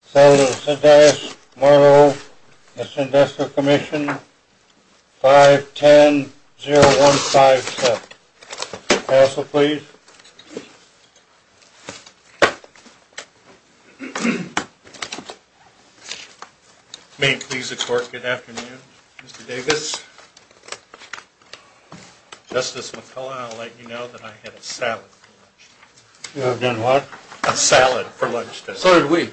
Salad of the Sundays, Marlowe, Mission Investor Commission, 510-0157. Counsel, please. May it please the Court, good afternoon, Mr. Davis. Justice McCullough, I'll let you know that I had a salad for lunch today. You have done what? A salad for lunch today. So did we.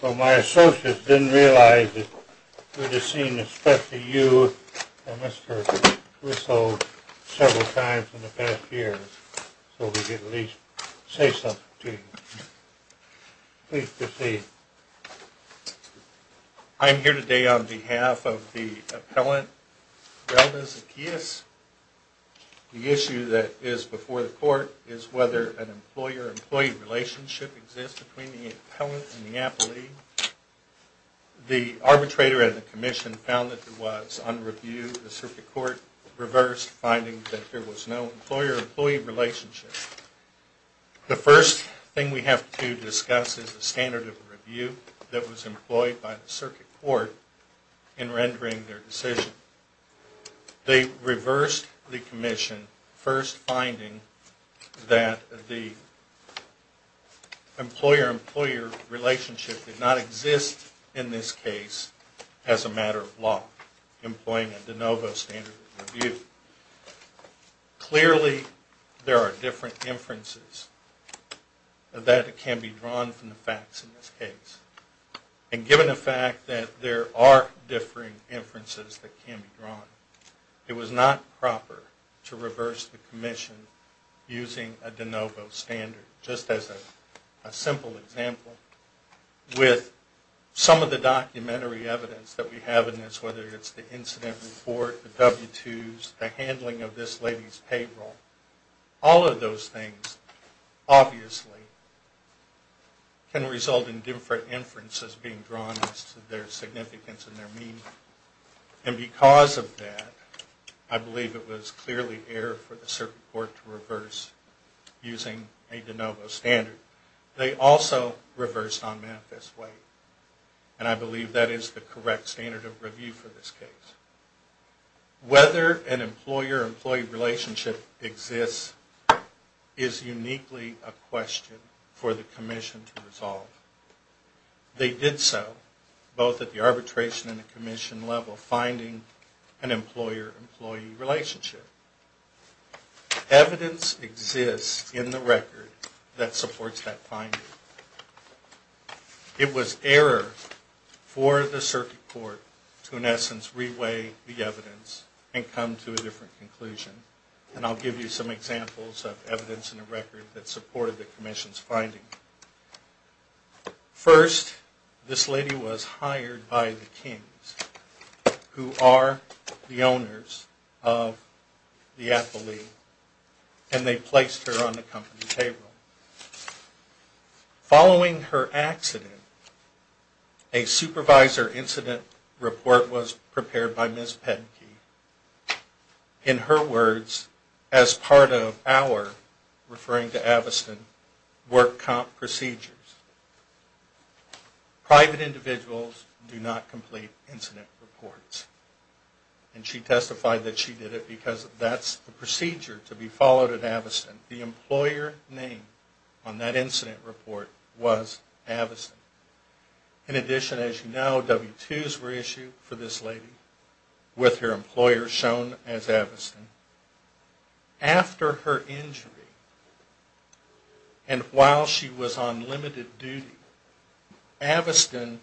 Well, my associates didn't realize it. We're just seeing the specter of you and Mr. Whistle several times in the past year. So we could at least say something to you. Please proceed. I'm here today on behalf of the appellant, Relda Zacheis. The issue that is before the Court is whether an employer-employee relationship exists between the appellant and the appellee. The arbitrator and the Commission found that there was, on review, the Circuit Court reversed, finding that there was no employer-employee relationship. The first thing we have to discuss is the standard of review that was employed by the Circuit Court in rendering their decision. They reversed the Commission, first finding that the employer-employee relationship did not exist in this case as a matter of law, employing a de novo standard of review. Clearly, there are different inferences that can be drawn from the facts in this case. And given the fact that there are differing inferences that can be drawn, it was not proper to reverse the Commission using a de novo standard. Just as a simple example, with some of the documentary evidence that we have in this, whether it's the incident report, the W-2s, the handling of this lady's payroll, all of those things obviously can result in different inferences being drawn as to their significance and their meaning. And because of that, I believe it was clearly error for the Circuit Court to reverse using a de novo standard. They also reversed on Memphis Way. And I believe that is the correct standard of review for this case. Whether an employer-employee relationship exists is uniquely a question for the Commission to resolve. They did so, both at the arbitration and the Commission level, finding an employer-employee relationship. Evidence exists in the record that supports that finding. It was error for the Circuit Court to, in essence, re-weigh the evidence and come to a different conclusion. And I'll give you some examples of evidence in the record that supported the Commission's finding. First, this lady was hired by the Kings, who are the owners of the affilee. And they placed her on the company payroll. Following her accident, a supervisor incident report was prepared by Ms. Pettenke. In her words, as part of our, referring to Aviston, work comp procedures, private individuals do not complete incident reports. And she testified that she did it because that's the procedure to be followed at Aviston. The employer name on that incident report was Aviston. In addition, as you know, W-2s were issued for this lady with her employer shown as Aviston. After her injury, and while she was on limited duty, Aviston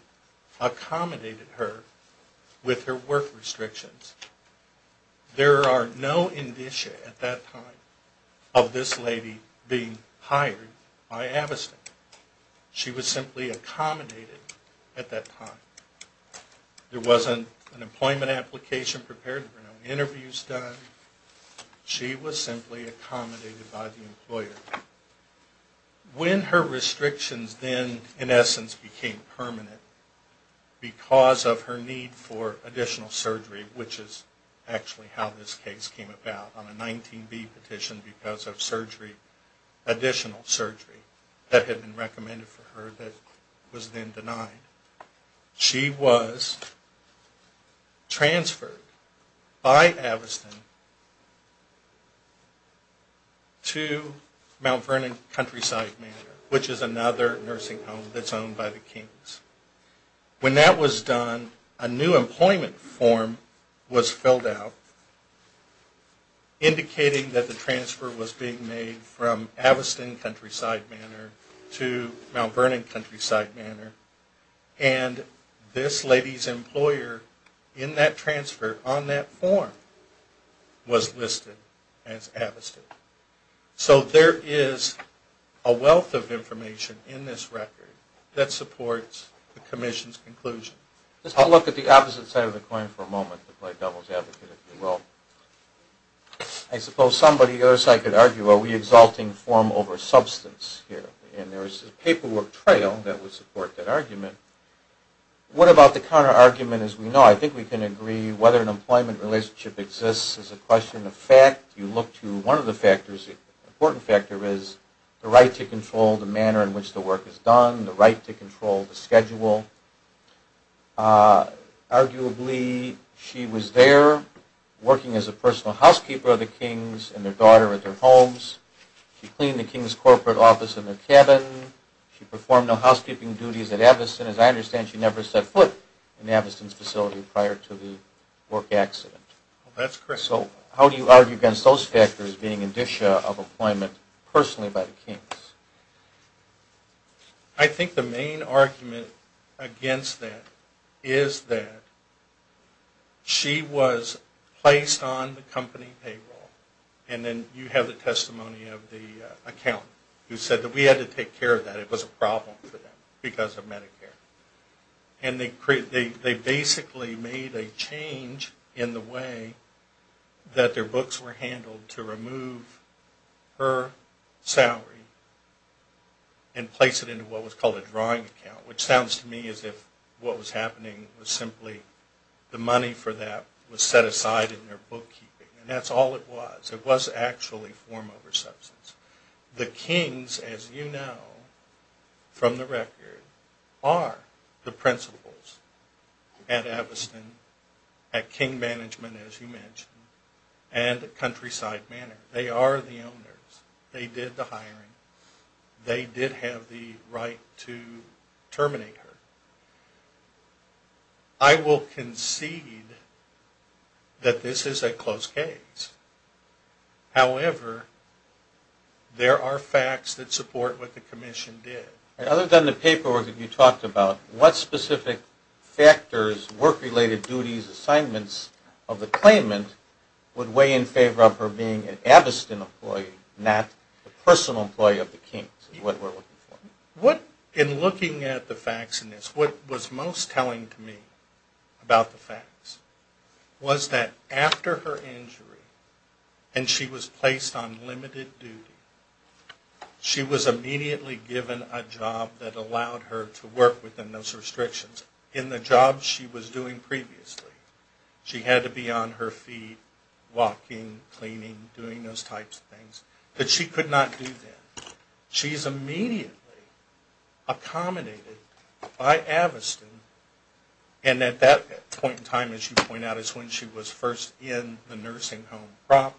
accommodated her with her work restrictions. There are no indicia at that time of this lady being hired by Aviston. She was simply accommodated at that time. There wasn't an employment application prepared, no interviews done. She was simply accommodated by the employer. When her restrictions then, in essence, became permanent, because of her need for additional surgery, which is actually how this case came about, on a 19B petition because of additional surgery that had been recommended for her that was then denied, she was transferred by Aviston to Mount Vernon Countryside Manor, which is another nursing home that's owned by the Kings. When that was done, a new employment form was filled out, indicating that the transfer was being made from Aviston Countryside Manor to Mount Vernon Countryside Manor, and this lady's employer in that transfer on that form was listed as Aviston. So there is a wealth of information in this record that supports the Commission's conclusion. I'll look at the opposite side of the coin for a moment to play devil's advocate, if you will. I suppose somebody on the other side could argue, are we exalting form over substance here? And there is a paperwork trail that would support that argument. What about the counterargument? As we know, I think we can agree, whether an employment relationship exists is a question of fact. You look to one of the factors, the important factor is the right to control the manner in which the work is done, the right to control the schedule. Arguably, she was there working as a personal housekeeper of the Kings and their daughter at their homes. She cleaned the King's corporate office and their cabin. She performed no housekeeping duties at Aviston. As I understand, she never set foot in Aviston's facility prior to the work accident. That's correct. So how do you argue against those factors being an issue of employment personally by the Kings? I think the main argument against that is that she was placed on the company payroll. And then you have the testimony of the accountant who said that we had to take care of that. It was a problem for them because of Medicare. And they basically made a change in the way that their books were handled to remove her salary. And place it into what was called a drawing account. Which sounds to me as if what was happening was simply the money for that was set aside in their bookkeeping. And that's all it was. It was actually form over substance. The Kings, as you know from the record, are the principals at Aviston, at King Management, as you mentioned, They are the owners. They did the hiring. They did have the right to terminate her. I will concede that this is a close case. However, there are facts that support what the commission did. Other than the paperwork that you talked about, what specific factors, work-related duties, assignments of the claimant, would weigh in favor of her being an Aviston employee, not a personal employee of the Kings? In looking at the facts in this, what was most telling to me about the facts was that after her injury, and she was placed on limited duty, she was immediately given a job that allowed her to work within those restrictions. In the job she was doing previously. She had to be on her feet, walking, cleaning, doing those types of things that she could not do then. She is immediately accommodated by Aviston. And at that point in time, as you point out, is when she was first in the nursing home proper.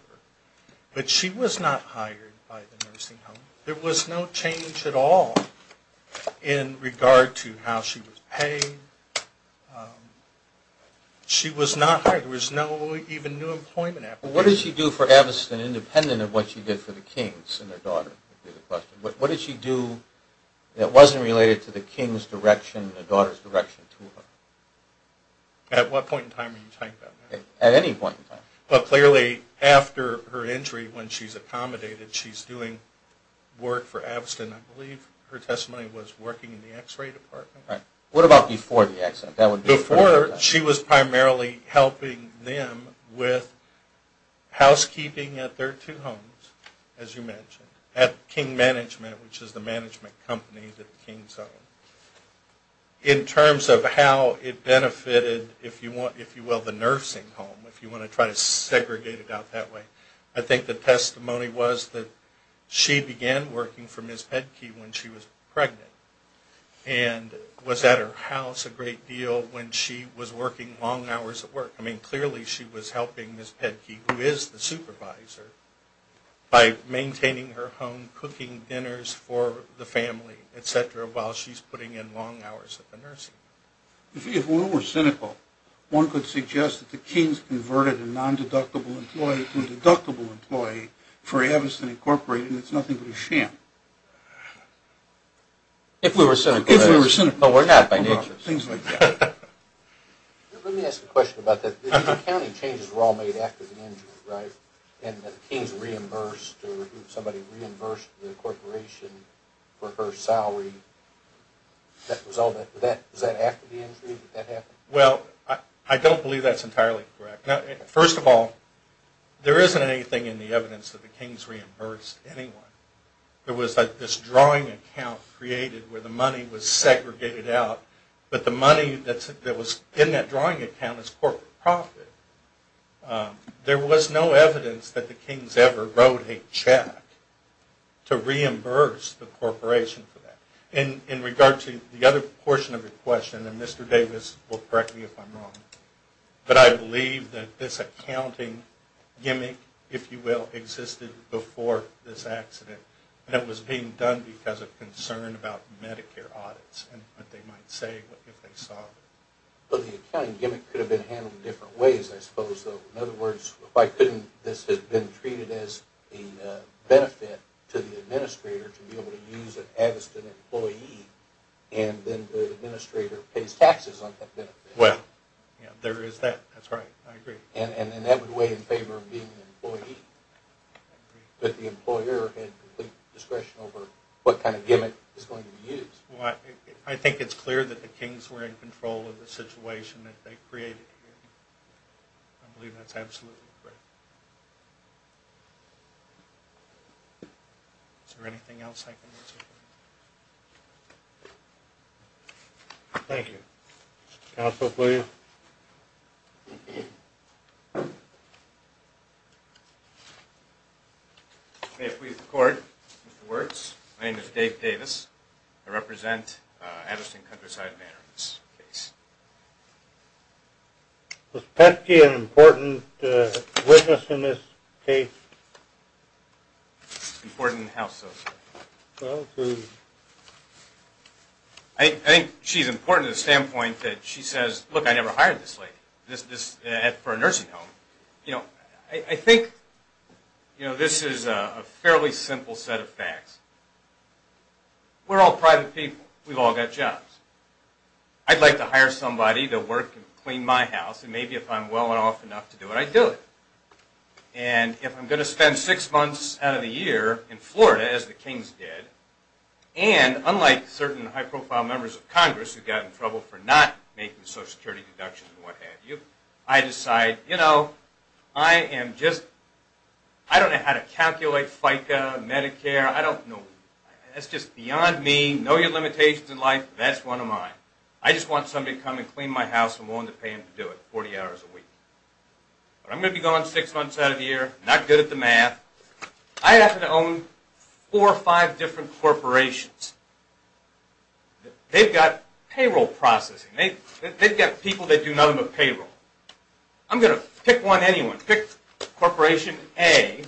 But she was not hired by the nursing home. There was no change at all in regard to how she was paid. She was not hired. There was no even new employment. What did she do for Aviston, independent of what she did for the Kings and their daughter? What did she do that wasn't related to the Kings' direction and the daughter's direction to her? At what point in time are you talking about that? At any point in time. But clearly, after her injury, when she's accommodated, she's doing work for Aviston. I believe her testimony was working in the x-ray department. What about before the accident? Before, she was primarily helping them with housekeeping at their two homes, as you mentioned. At King Management, which is the management company that the Kings own. In terms of how it benefited, if you will, the nursing home, if you want to try to segregate it out that way, I think the testimony was that she began working for Ms. Pedke when she was pregnant. And was at her house a great deal when she was working long hours at work. I mean, clearly she was helping Ms. Pedke, who is the supervisor, by maintaining her home, and cooking dinners for the family, et cetera, while she's putting in long hours at the nursing home. If we were cynical, one could suggest that the Kings converted a non-deductible employee to a deductible employee for Aviston Incorporated, and it's nothing but a sham. If we were cynical. If we were cynical. But we're not, by nature. Things like that. Let me ask a question about that. The accounting changes were all made after the injury, right? And the Kings reimbursed, or somebody reimbursed the corporation for her salary. Was that after the injury that that happened? Well, I don't believe that's entirely correct. First of all, there isn't anything in the evidence that the Kings reimbursed anyone. There was this drawing account created where the money was segregated out, but the money that was in that drawing account is corporate profit. There was no evidence that the Kings ever wrote a check to reimburse the corporation for that. In regard to the other portion of your question, and Mr. Davis will correct me if I'm wrong, but I believe that this accounting gimmick, if you will, existed before this accident, and it was being done because of concern about Medicare audits and what they might say if they saw it. But the accounting gimmick could have been handled in different ways, I suppose, though. In other words, why couldn't this have been treated as a benefit to the administrator to be able to use it as an employee, and then the administrator pays taxes on that benefit? Well, there is that. That's right. I agree. And that would weigh in favor of being an employee. But the employer had complete discretion over what kind of gimmick was going to be used. Well, I think it's clear that the Kings were in control of the situation that they created here. I believe that's absolutely correct. Is there anything else I can answer? Thank you. Counsel, please. May I please record, Mr. Wertz. My name is Dave Davis. I represent Anderson Countryside Manor in this case. Was Petke an important witness in this case? Important in how so, sir? I think she's important to the standpoint that she says, look, I never hired this lady for a nursing home. I think this is a fairly simple set of facts. We're all private people. We've all got jobs. I'd like to hire somebody to work and clean my house, and maybe if I'm well enough to do it, I'd do it. And if I'm going to spend six months out of the year in Florida, as the Kings did, and unlike certain high-profile members of Congress who got in trouble for not making social security deductions and what have you, I decide, you know, I am just, I don't know how to calculate FICA, Medicare, I don't know. That's just beyond me. Know your limitations in life. That's one of mine. I just want somebody to come and clean my house, and I'm willing to pay them to do it 40 hours a week. But I'm going to be gone six months out of the year, not good at the math. I happen to own four or five different corporations. They've got payroll processing. They've got people that do nothing but payroll. I'm going to pick one, anyone. Pick Corporation A,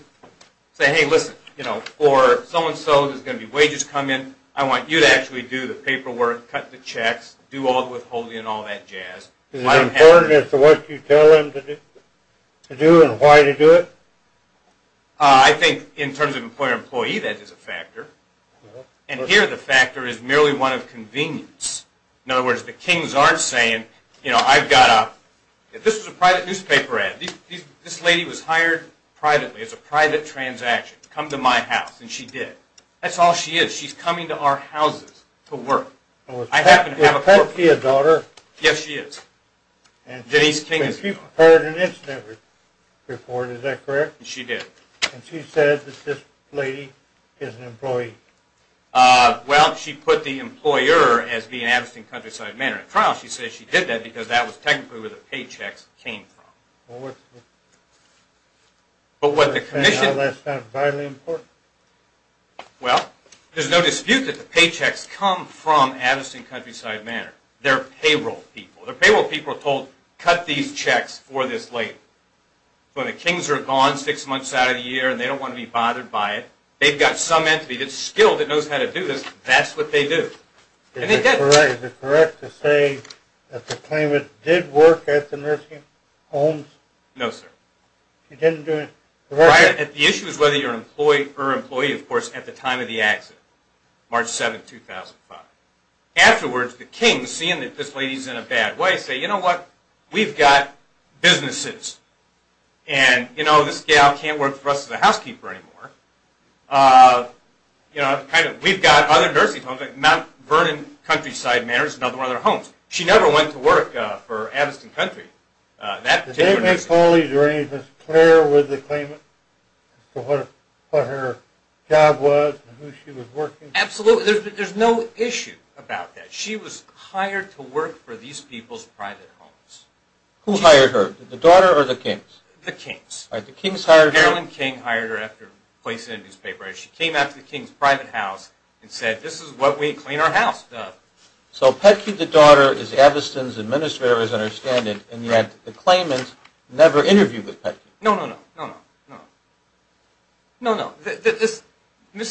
say, hey, listen, you know, or so-and-so, there's going to be wages come in, I want you to actually do the paperwork, cut the checks, do all the withholding and all that jazz. Is it important as to what you tell them to do and why to do it? I think in terms of employer-employee, that is a factor. And here the factor is merely one of convenience. In other words, the kings aren't saying, you know, I've got a, if this was a private newspaper ad, this lady was hired privately, it's a private transaction, come to my house, and she did. That's all she is. She's coming to our houses to work. I happen to have a corporate. Yes, she is. Denise King is a corporate. She did. Well, she put the employer as being an absent countryside man in a trial. She says she did that because that was technically where the paychecks came from. But what the commission... Well, there's no dispute that the paychecks come from absent countryside manor. They're payroll people. The payroll people are told, cut these checks for this lady. When the kings are gone six months out of the year and they don't want to be bothered by it, they've got some entity that's skilled that knows how to do this, that's what they do. And they did. Is it correct to say that the claimant did work at the nursing homes? No, sir. He didn't do it directly? The issue is whether you're an employee or employee, of course, at the time of the accident, March 7, 2005. Afterwards, the kings, seeing that this lady is in a bad way, say, you know what? We've got businesses. And, you know, this gal can't work for us as a housekeeper anymore. We've got other nursing homes, like Mount Vernon Countryside Manor is another one of their homes. She never went to work for Abistin Country. Did they make police or anything clear with the claimant as to what her job was and who she was working for? Absolutely. There's no issue about that. She was hired to work for these people's private homes. Who hired her, the daughter or the kings? The kings. All right, the kings hired her. Marilyn King hired her after replacing a newspaper. She came out to the king's private house and said, this is what we clean our house of. So, Petke, the daughter, is Abistin's administrator, as I understand it. And yet, the claimant never interviewed with Petke. No, no, no, no, no. No, no. Mr. and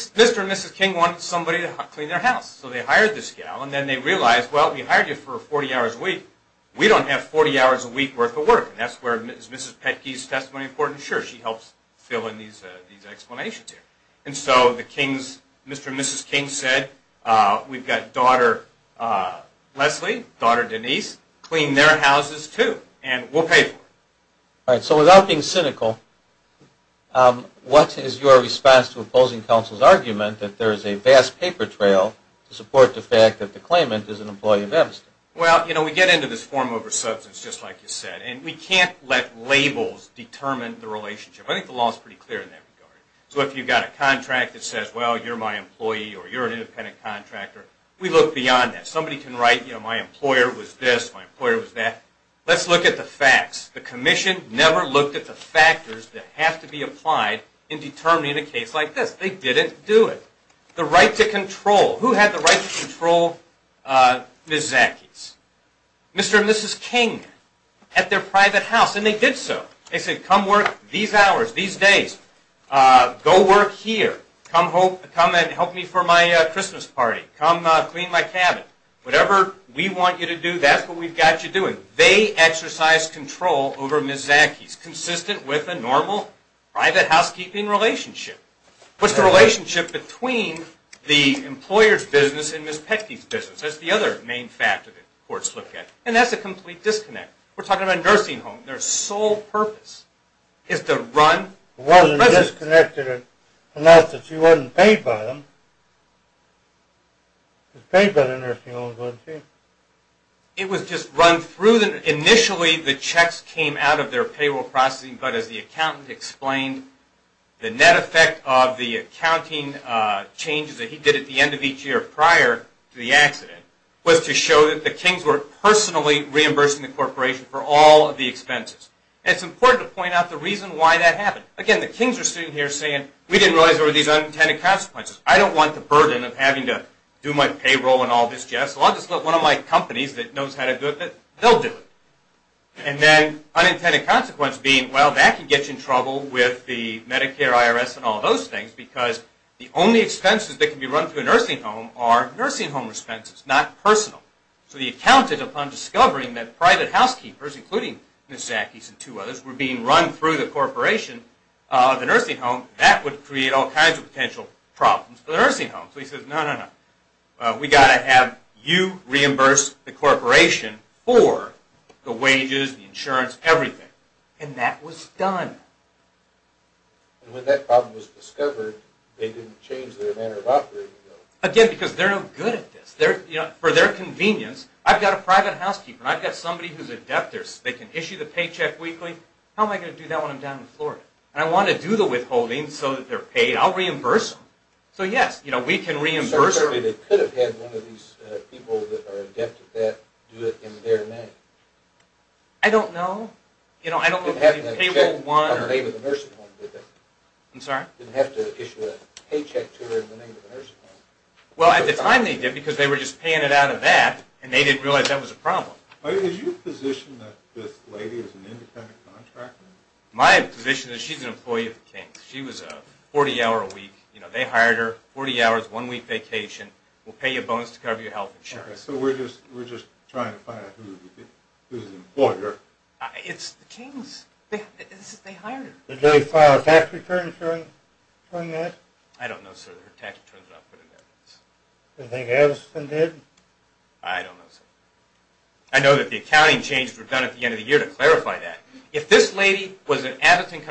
Mrs. King wanted somebody to clean their house. So, they hired this gal. And then they realized, well, we hired you for 40 hours a week. We don't have 40 hours a week worth of work. And that's where Mrs. Petke's testimony is important. Sure, she helps fill in these explanations here. And so, the kings, Mr. and Mrs. King said, we've got daughter Leslie, daughter Denise, clean their houses too. And we'll pay for it. All right, so without being cynical, what is your response to opposing counsel's argument that there is a vast paper trail to support the fact that the claimant is an employee of Abistin? Well, you know, we get into this form over substance, just like you said. And we can't let labels determine the relationship. I think the law is pretty clear in that regard. So, if you've got a contract that says, well, you're my employee or you're an independent contractor, we look beyond that. Somebody can write, you know, my employer was this, my employer was that. Let's look at the facts. The commission never looked at the factors that have to be applied in determining a case like this. They didn't do it. The right to control. Who had the right to control Ms. Zaki's? Mr. and Mrs. King at their private house. And they did so. They said, come work these hours, these days. Go work here. Come and help me for my Christmas party. Come clean my cabin. Whatever we want you to do, that's what we've got you doing. They exercised control over Ms. Zaki's, consistent with a normal private housekeeping relationship. What's the relationship between the employer's business and Ms. Pecky's business? That's the other main factor that courts look at. And that's a complete disconnect. We're talking about a nursing home. Their sole purpose is to run the business. It wasn't disconnected enough that she wasn't paid by them. She was paid by the nursing home, wasn't she? It was just run through them. Initially, the checks came out of their payroll processing, but as the accountant explained, the net effect of the accounting changes that he did at the end of each year prior to the accident was to show that the Kings were personally reimbursing the corporation for all of the expenses. And it's important to point out the reason why that happened. Again, the Kings are sitting here saying, we didn't realize there were these unintended consequences. I don't want the burden of having to do my payroll and all this jazz. So I'll just let one of my companies that knows how to do it, they'll do it. And then unintended consequence being, well, that can get you in trouble with the Medicare, IRS, and all those things because the only expenses that can be run through a nursing home are nursing home expenses, not personal. So the accountant, upon discovering that private housekeepers, including Ms. Zacky's and two others, were being run through the corporation of the nursing home, that would create all kinds of potential problems for the nursing home. So he says, no, no, no. We've got to have you reimburse the corporation for the wages, the insurance, everything. And that was done. And when that problem was discovered, they didn't change their manner of operating, though. Again, because they're no good at this. For their convenience, I've got a private housekeeper. I've got somebody who's a debtor. They can issue the paycheck weekly. How am I going to do that when I'm down in Florida? And I want to do the withholding so that they're paid. I'll reimburse them. So yes, we can reimburse them. So they could have had one of these people that are a debtor do it in their name. I don't know. They didn't have to issue a paycheck to her in the name of the nursing home. I'm sorry? They didn't have to issue a paycheck to her in the name of the nursing home. Well, at the time they did, because they were just paying it out of that, and they didn't realize that was a problem. Is your position that this lady is an independent contractor? My position is she's an employee of the King's. She was a 40-hour a week. They hired her. 40 hours, one-week vacation. We'll pay you a bonus to cover your health insurance. Okay, so we're just trying to find out who's the employer. It's the King's. They hired her. Did they file a tax return showing that? I don't know, sir. Their tax return's not put in evidence. Do you think Abbotton did? I don't know, sir. I know that the accounting changes were done at the end of the year to clarify that. If this lady was an Abbotton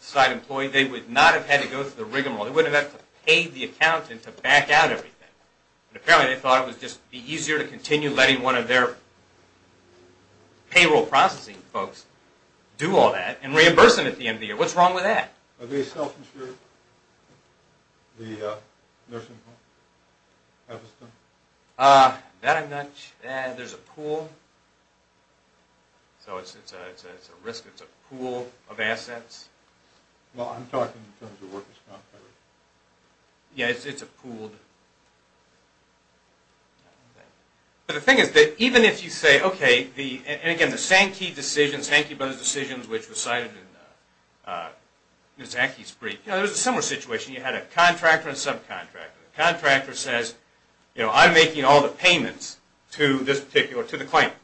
side employee, they would not have had to go through the rigmarole. They wouldn't have had to pay the accountant to back out everything. Apparently, they thought it would just be easier to continue letting one of their payroll processing folks do all that and reimburse them at the end of the year. What's wrong with that? Are they self-insured? The nursing home? That I'm not sure. There's a pool. It's a risk. It's a pool of assets. I'm talking in terms of workers' comp coverage. Yeah, it's a pool. But the thing is that even if you say, okay, and again, the Sankey decisions, Sankey Brothers' decisions, which was cited in Ms. Anki's brief, there was a similar situation. You had a contractor and a subcontractor. The contractor says, I'm making all the payments to this particular, to the claimant.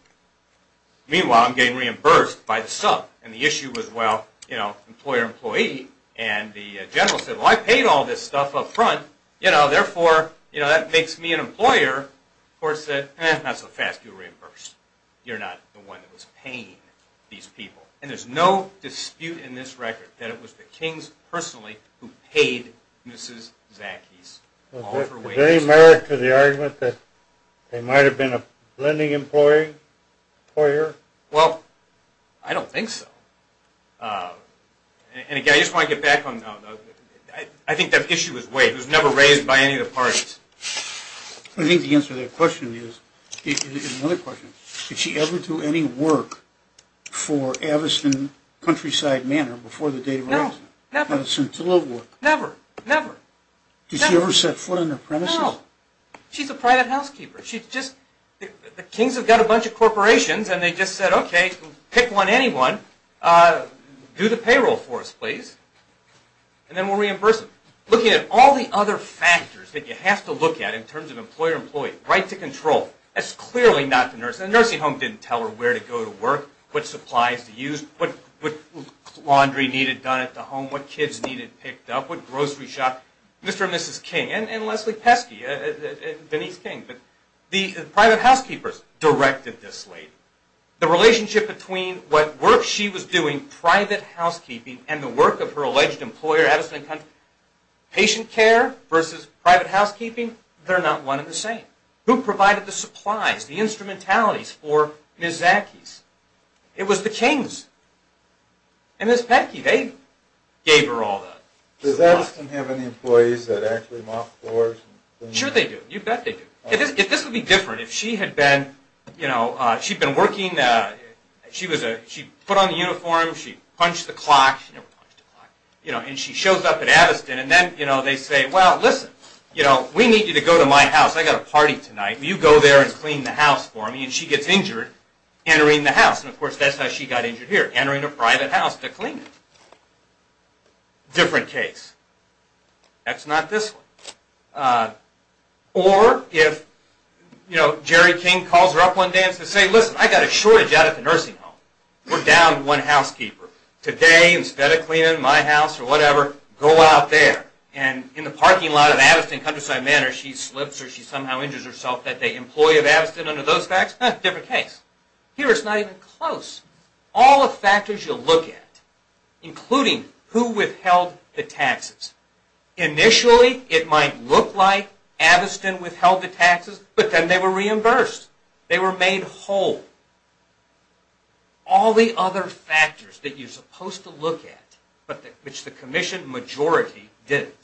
Meanwhile, I'm getting reimbursed by the sub. And the issue was, well, employer-employee. And the general said, well, I paid all this stuff up front. You know, therefore, you know, that makes me an employer. The court said, eh, not so fast. You're reimbursed. You're not the one that was paying these people. And there's no dispute in this record that it was the kings personally who paid Mrs. Anki's. Is there any merit to the argument that they might have been a lending employer? Well, I don't think so. And again, I just want to get back on, I think that issue was waived. It was never raised by any of the parties. I think the answer to that question is, another question, did she ever do any work for Aviston Countryside Manor before the date of her arrest? No, never. Never, never. Did she ever set foot on their premises? No. She's a private housekeeper. She just, the kings have got a bunch of corporations, and they just said, okay, pick one, anyone, do the payroll for us, please, and then we'll reimburse them. Looking at all the other factors that you have to look at in terms of employer-employee, right to control, that's clearly not the nurse. The nursing home didn't tell her where to go to work, what supplies to use, what laundry needed done at the home, what kids needed picked up, what grocery shop. Mr. and Mrs. King and Leslie Pesky, Denise King, the private housekeepers directed this lady. The relationship between what work she was doing, private housekeeping, and the work of her alleged employer, Aviston Countryside, patient care versus private housekeeping, they're not one and the same. Who provided the supplies, the instrumentalities for Ms. Zaki's? It was the kings. And Ms. Pesky, they gave her all that. Does Aviston have any employees that actually mop floors? Sure they do, you bet they do. If this would be different, if she had been, you know, she'd been working, she put on the uniform, she punched the clock, and she shows up at Aviston, and then they say, well, listen, we need you to go to my house, I've got a party tonight, will you go there and clean the house for me? And she gets injured entering the house, and of course that's how she got injured here, entering a private house to clean it. Different case. That's not this one. Or if, you know, Jerry King calls her up one day and says, say, listen, I've got a shortage out at the nursing home. We're down to one housekeeper. Today, instead of cleaning my house or whatever, go out there. And in the parking lot of Aviston Countryside Manor, she slips or she somehow injures herself, that the employee of Aviston under those facts? Different case. Here it's not even close. All the factors you'll look at, including who withheld the taxes. Initially, it might look like Aviston withheld the taxes, but then they were reimbursed. They were made whole. All the other factors that you're supposed to look at, but which the commission majority didn't.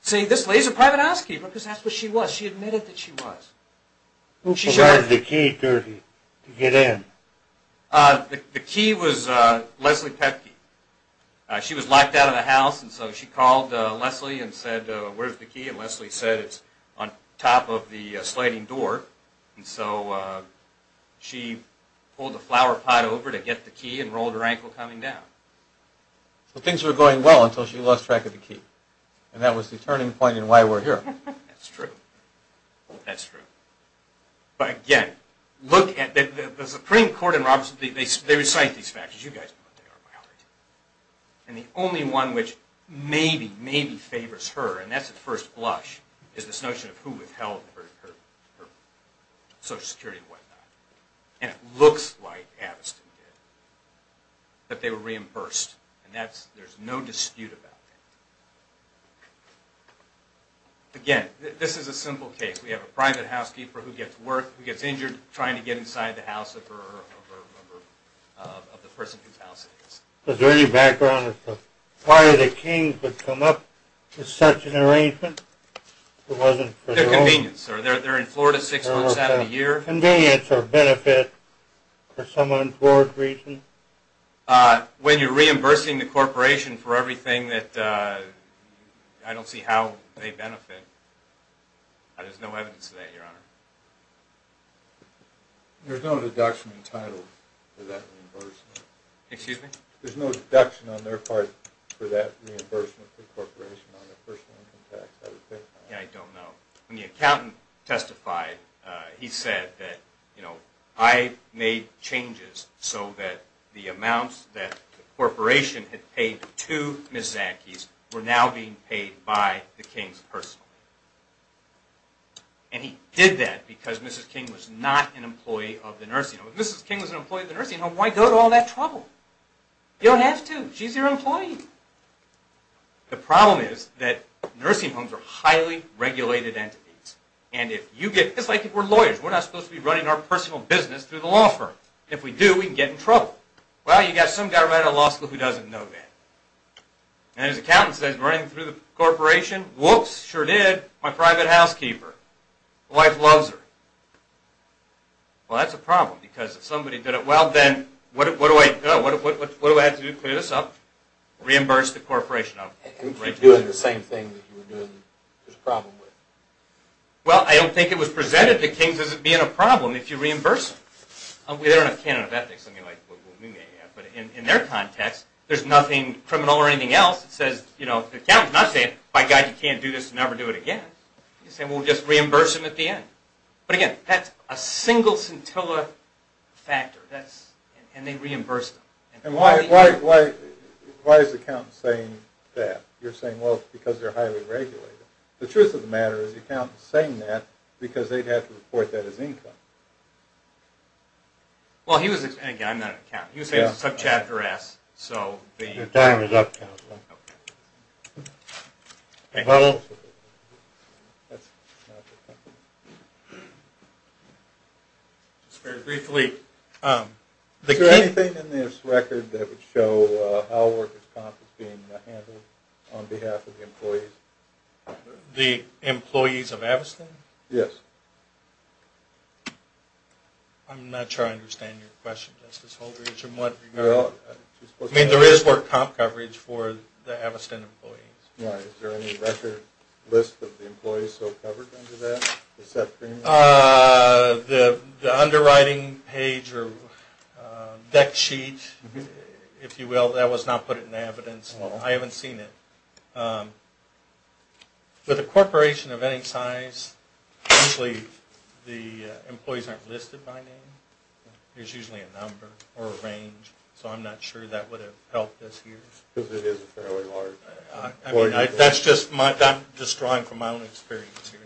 Say, this lady's a private housekeeper because that's what she was. She admitted that she was. Who provided the key to get in? The key was Leslie Petkey. She was locked out of the house, and so she called Leslie and said, where's the key? And Leslie said, it's on top of the sliding door. And so she pulled the flower pot over to get the key and rolled her ankle coming down. So things were going well until she lost track of the key. And that was the turning point in why we're here. That's true. That's true. But again, look at the Supreme Court in Robeson. They recite these factors. You guys know what they are by heart. And the only one which maybe, maybe favors her, and that's at first blush, is this notion of who withheld her Social Security and whatnot. And it looks like Aviston did. That they were reimbursed. And there's no dispute about that. Again, this is a simple case. We have a private housekeeper who gets injured trying to get inside the house of the person whose house it is. Is there any background as to why the Kings would come up with such an arrangement? It wasn't for convenience. They're in Florida six months out of the year. It wasn't for convenience or benefit for some unforeseen reason. When you're reimbursing the corporation for everything that, I don't see how they benefit. There's no evidence of that, Your Honor. There's no deduction entitled for that reimbursement. Excuse me? There's no deduction on their part for that reimbursement for the corporation on their personal income tax, I would think. I don't know. When the accountant testified, he said that, you know, I made changes so that the amounts that the corporation had paid to Ms. Zankees were now being paid by the Kings personally. And he did that because Mrs. King was not an employee of the nursing home. If Mrs. King was an employee of the nursing home, why go to all that trouble? You don't have to. She's your employee. The problem is that nursing homes are highly regulated entities. It's like if we're lawyers. We're not supposed to be running our personal business through the law firm. If we do, we can get in trouble. Well, you've got some guy running a law school who doesn't know that. And his accountant says, running through the corporation? Whoops, sure did. My private housekeeper. My wife loves her. Well, that's a problem because if somebody did it well, then what do I have to do to clear this up? Reimburse the corporation. If you're doing the same thing that you were doing this problem with? Well, I don't think it was presented to Kings as being a problem if you reimburse them. We don't have a canon of ethics like we may have. But in their context, there's nothing criminal or anything else that says, you know, the accountant's not saying, by God, you can't do this and never do it again. He's saying, well, just reimburse them at the end. But, again, that's a single scintilla factor. And they reimbursed them. And why is the accountant saying that? You're saying, well, it's because they're highly regulated. The truth of the matter is the accountant's saying that because they'd have to report that as income. Well, he was – and, again, I'm not an accountant. He was saying it's a tough chapter to ask. Your time is up, Counselor. Okay. Is there any record that would show how workers' comp is being handled on behalf of the employees? The employees of Aviston? Yes. I'm not sure I understand your question, Justice Holdrege, in what regard. I mean, there is work comp coverage for the Aviston employees. All right. Is there any record list of the employees still covered under that, the set premium? The underwriting page or deck sheet, if you will, that was not put in evidence. I haven't seen it. With a corporation of any size, usually the employees aren't listed by name. There's usually a number or a range. So I'm not sure that would have helped us here. Because it is fairly large. That's just my – I'm just drawing from my own experience here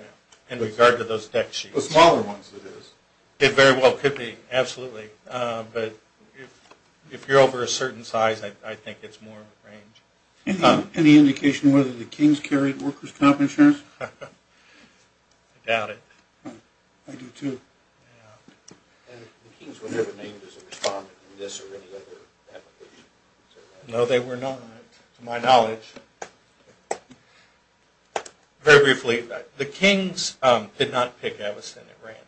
in regard to those deck sheets. The smaller ones, it is. It very well could be, absolutely. But if you're over a certain size, I think it's more of a range. Any indication whether the Kings carried workers' comp insurance? I doubt it. I do, too. And the Kings were never named as a respondent in this or any other application? No, they were not. To my knowledge. Very briefly, the Kings did not pick Aviston at random.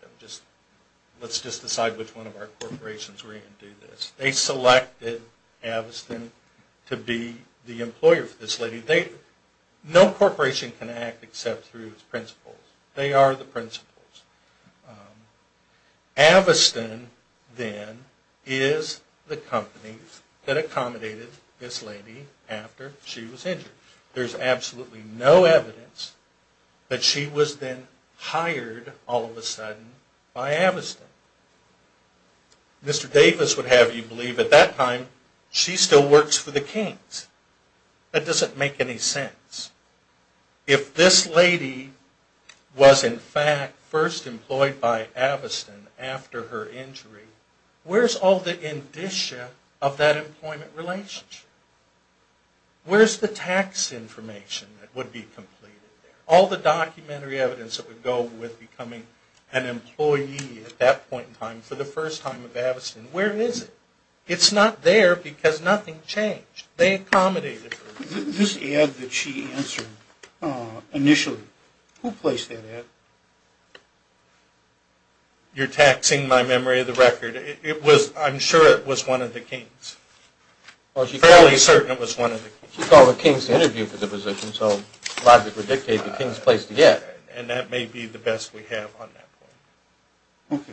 Let's just decide which one of our corporations were going to do this. They selected Aviston to be the employer for this lady. No corporation can act except through its principles. They are the principles. Aviston, then, is the company that accommodated this lady after she was injured. There's absolutely no evidence that she was then hired all of a sudden by Aviston. Mr. Davis would have you believe at that time she still works for the Kings. That doesn't make any sense. If this lady was, in fact, first employed by Aviston after her injury, where's all the indicia of that employment relationship? Where's the tax information that would be completed there? All the documentary evidence that would go with becoming an employee at that point in time for the first time at Aviston, where is it? It's not there because nothing changed. They accommodated her. This ad that she answered initially, who placed that ad? You're taxing my memory of the record. I'm sure it was one of the Kings. I'm fairly certain it was one of the Kings. She called the Kings to interview for the position, so logic would dictate the Kings placed the ad. And that may be the best we have on that point. Okay.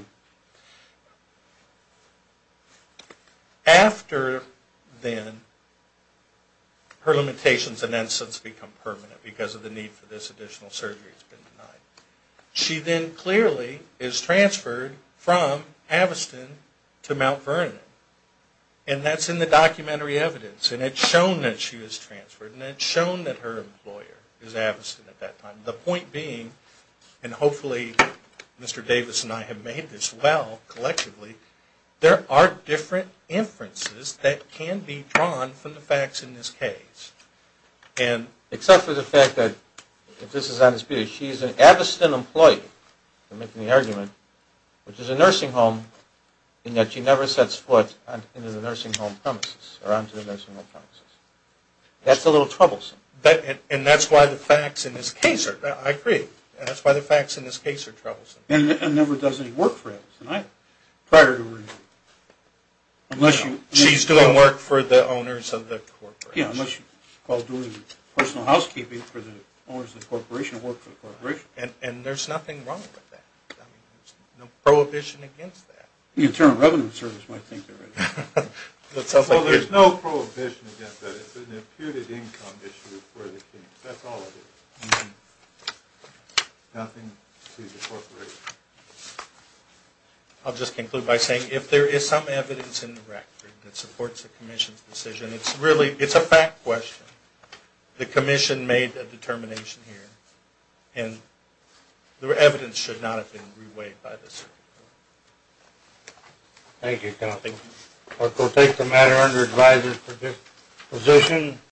After then, her limitations and innocence become permanent because of the need for this additional surgery has been denied. She then clearly is transferred from Aviston to Mount Vernon. And that's in the documentary evidence. And it's shown that she was transferred. And it's shown that her employer is Aviston at that time. The point being, and hopefully Mr. Davis and I have made this well collectively, there are different inferences that can be drawn from the facts in this case. Except for the fact that, if this is honest, she is an Aviston employee, if I'm making the argument, which is a nursing home, in that she never sets foot into the nursing home premises or onto the nursing home premises. That's a little troublesome. And that's why the facts in this case are, I agree, that's why the facts in this case are troublesome. And never does any work for Aviston either, prior to her removal. She's doing work for the owners of the corporation. Yeah, unless you call doing personal housekeeping for the owners of the corporation or work for the corporation. And there's nothing wrong with that. There's no prohibition against that. The Internal Revenue Service might think there is. Well, there's no prohibition against that. It's an imputed income issue for the case. That's all it is. Nothing to the corporation. I'll just conclude by saying, if there is some evidence in the record that supports the Commission's decision, it's a fact question. The Commission made a determination here. And the evidence should not have been reweighed by the Supreme Court. Thank you, County. We'll take the matter under advisory for this position.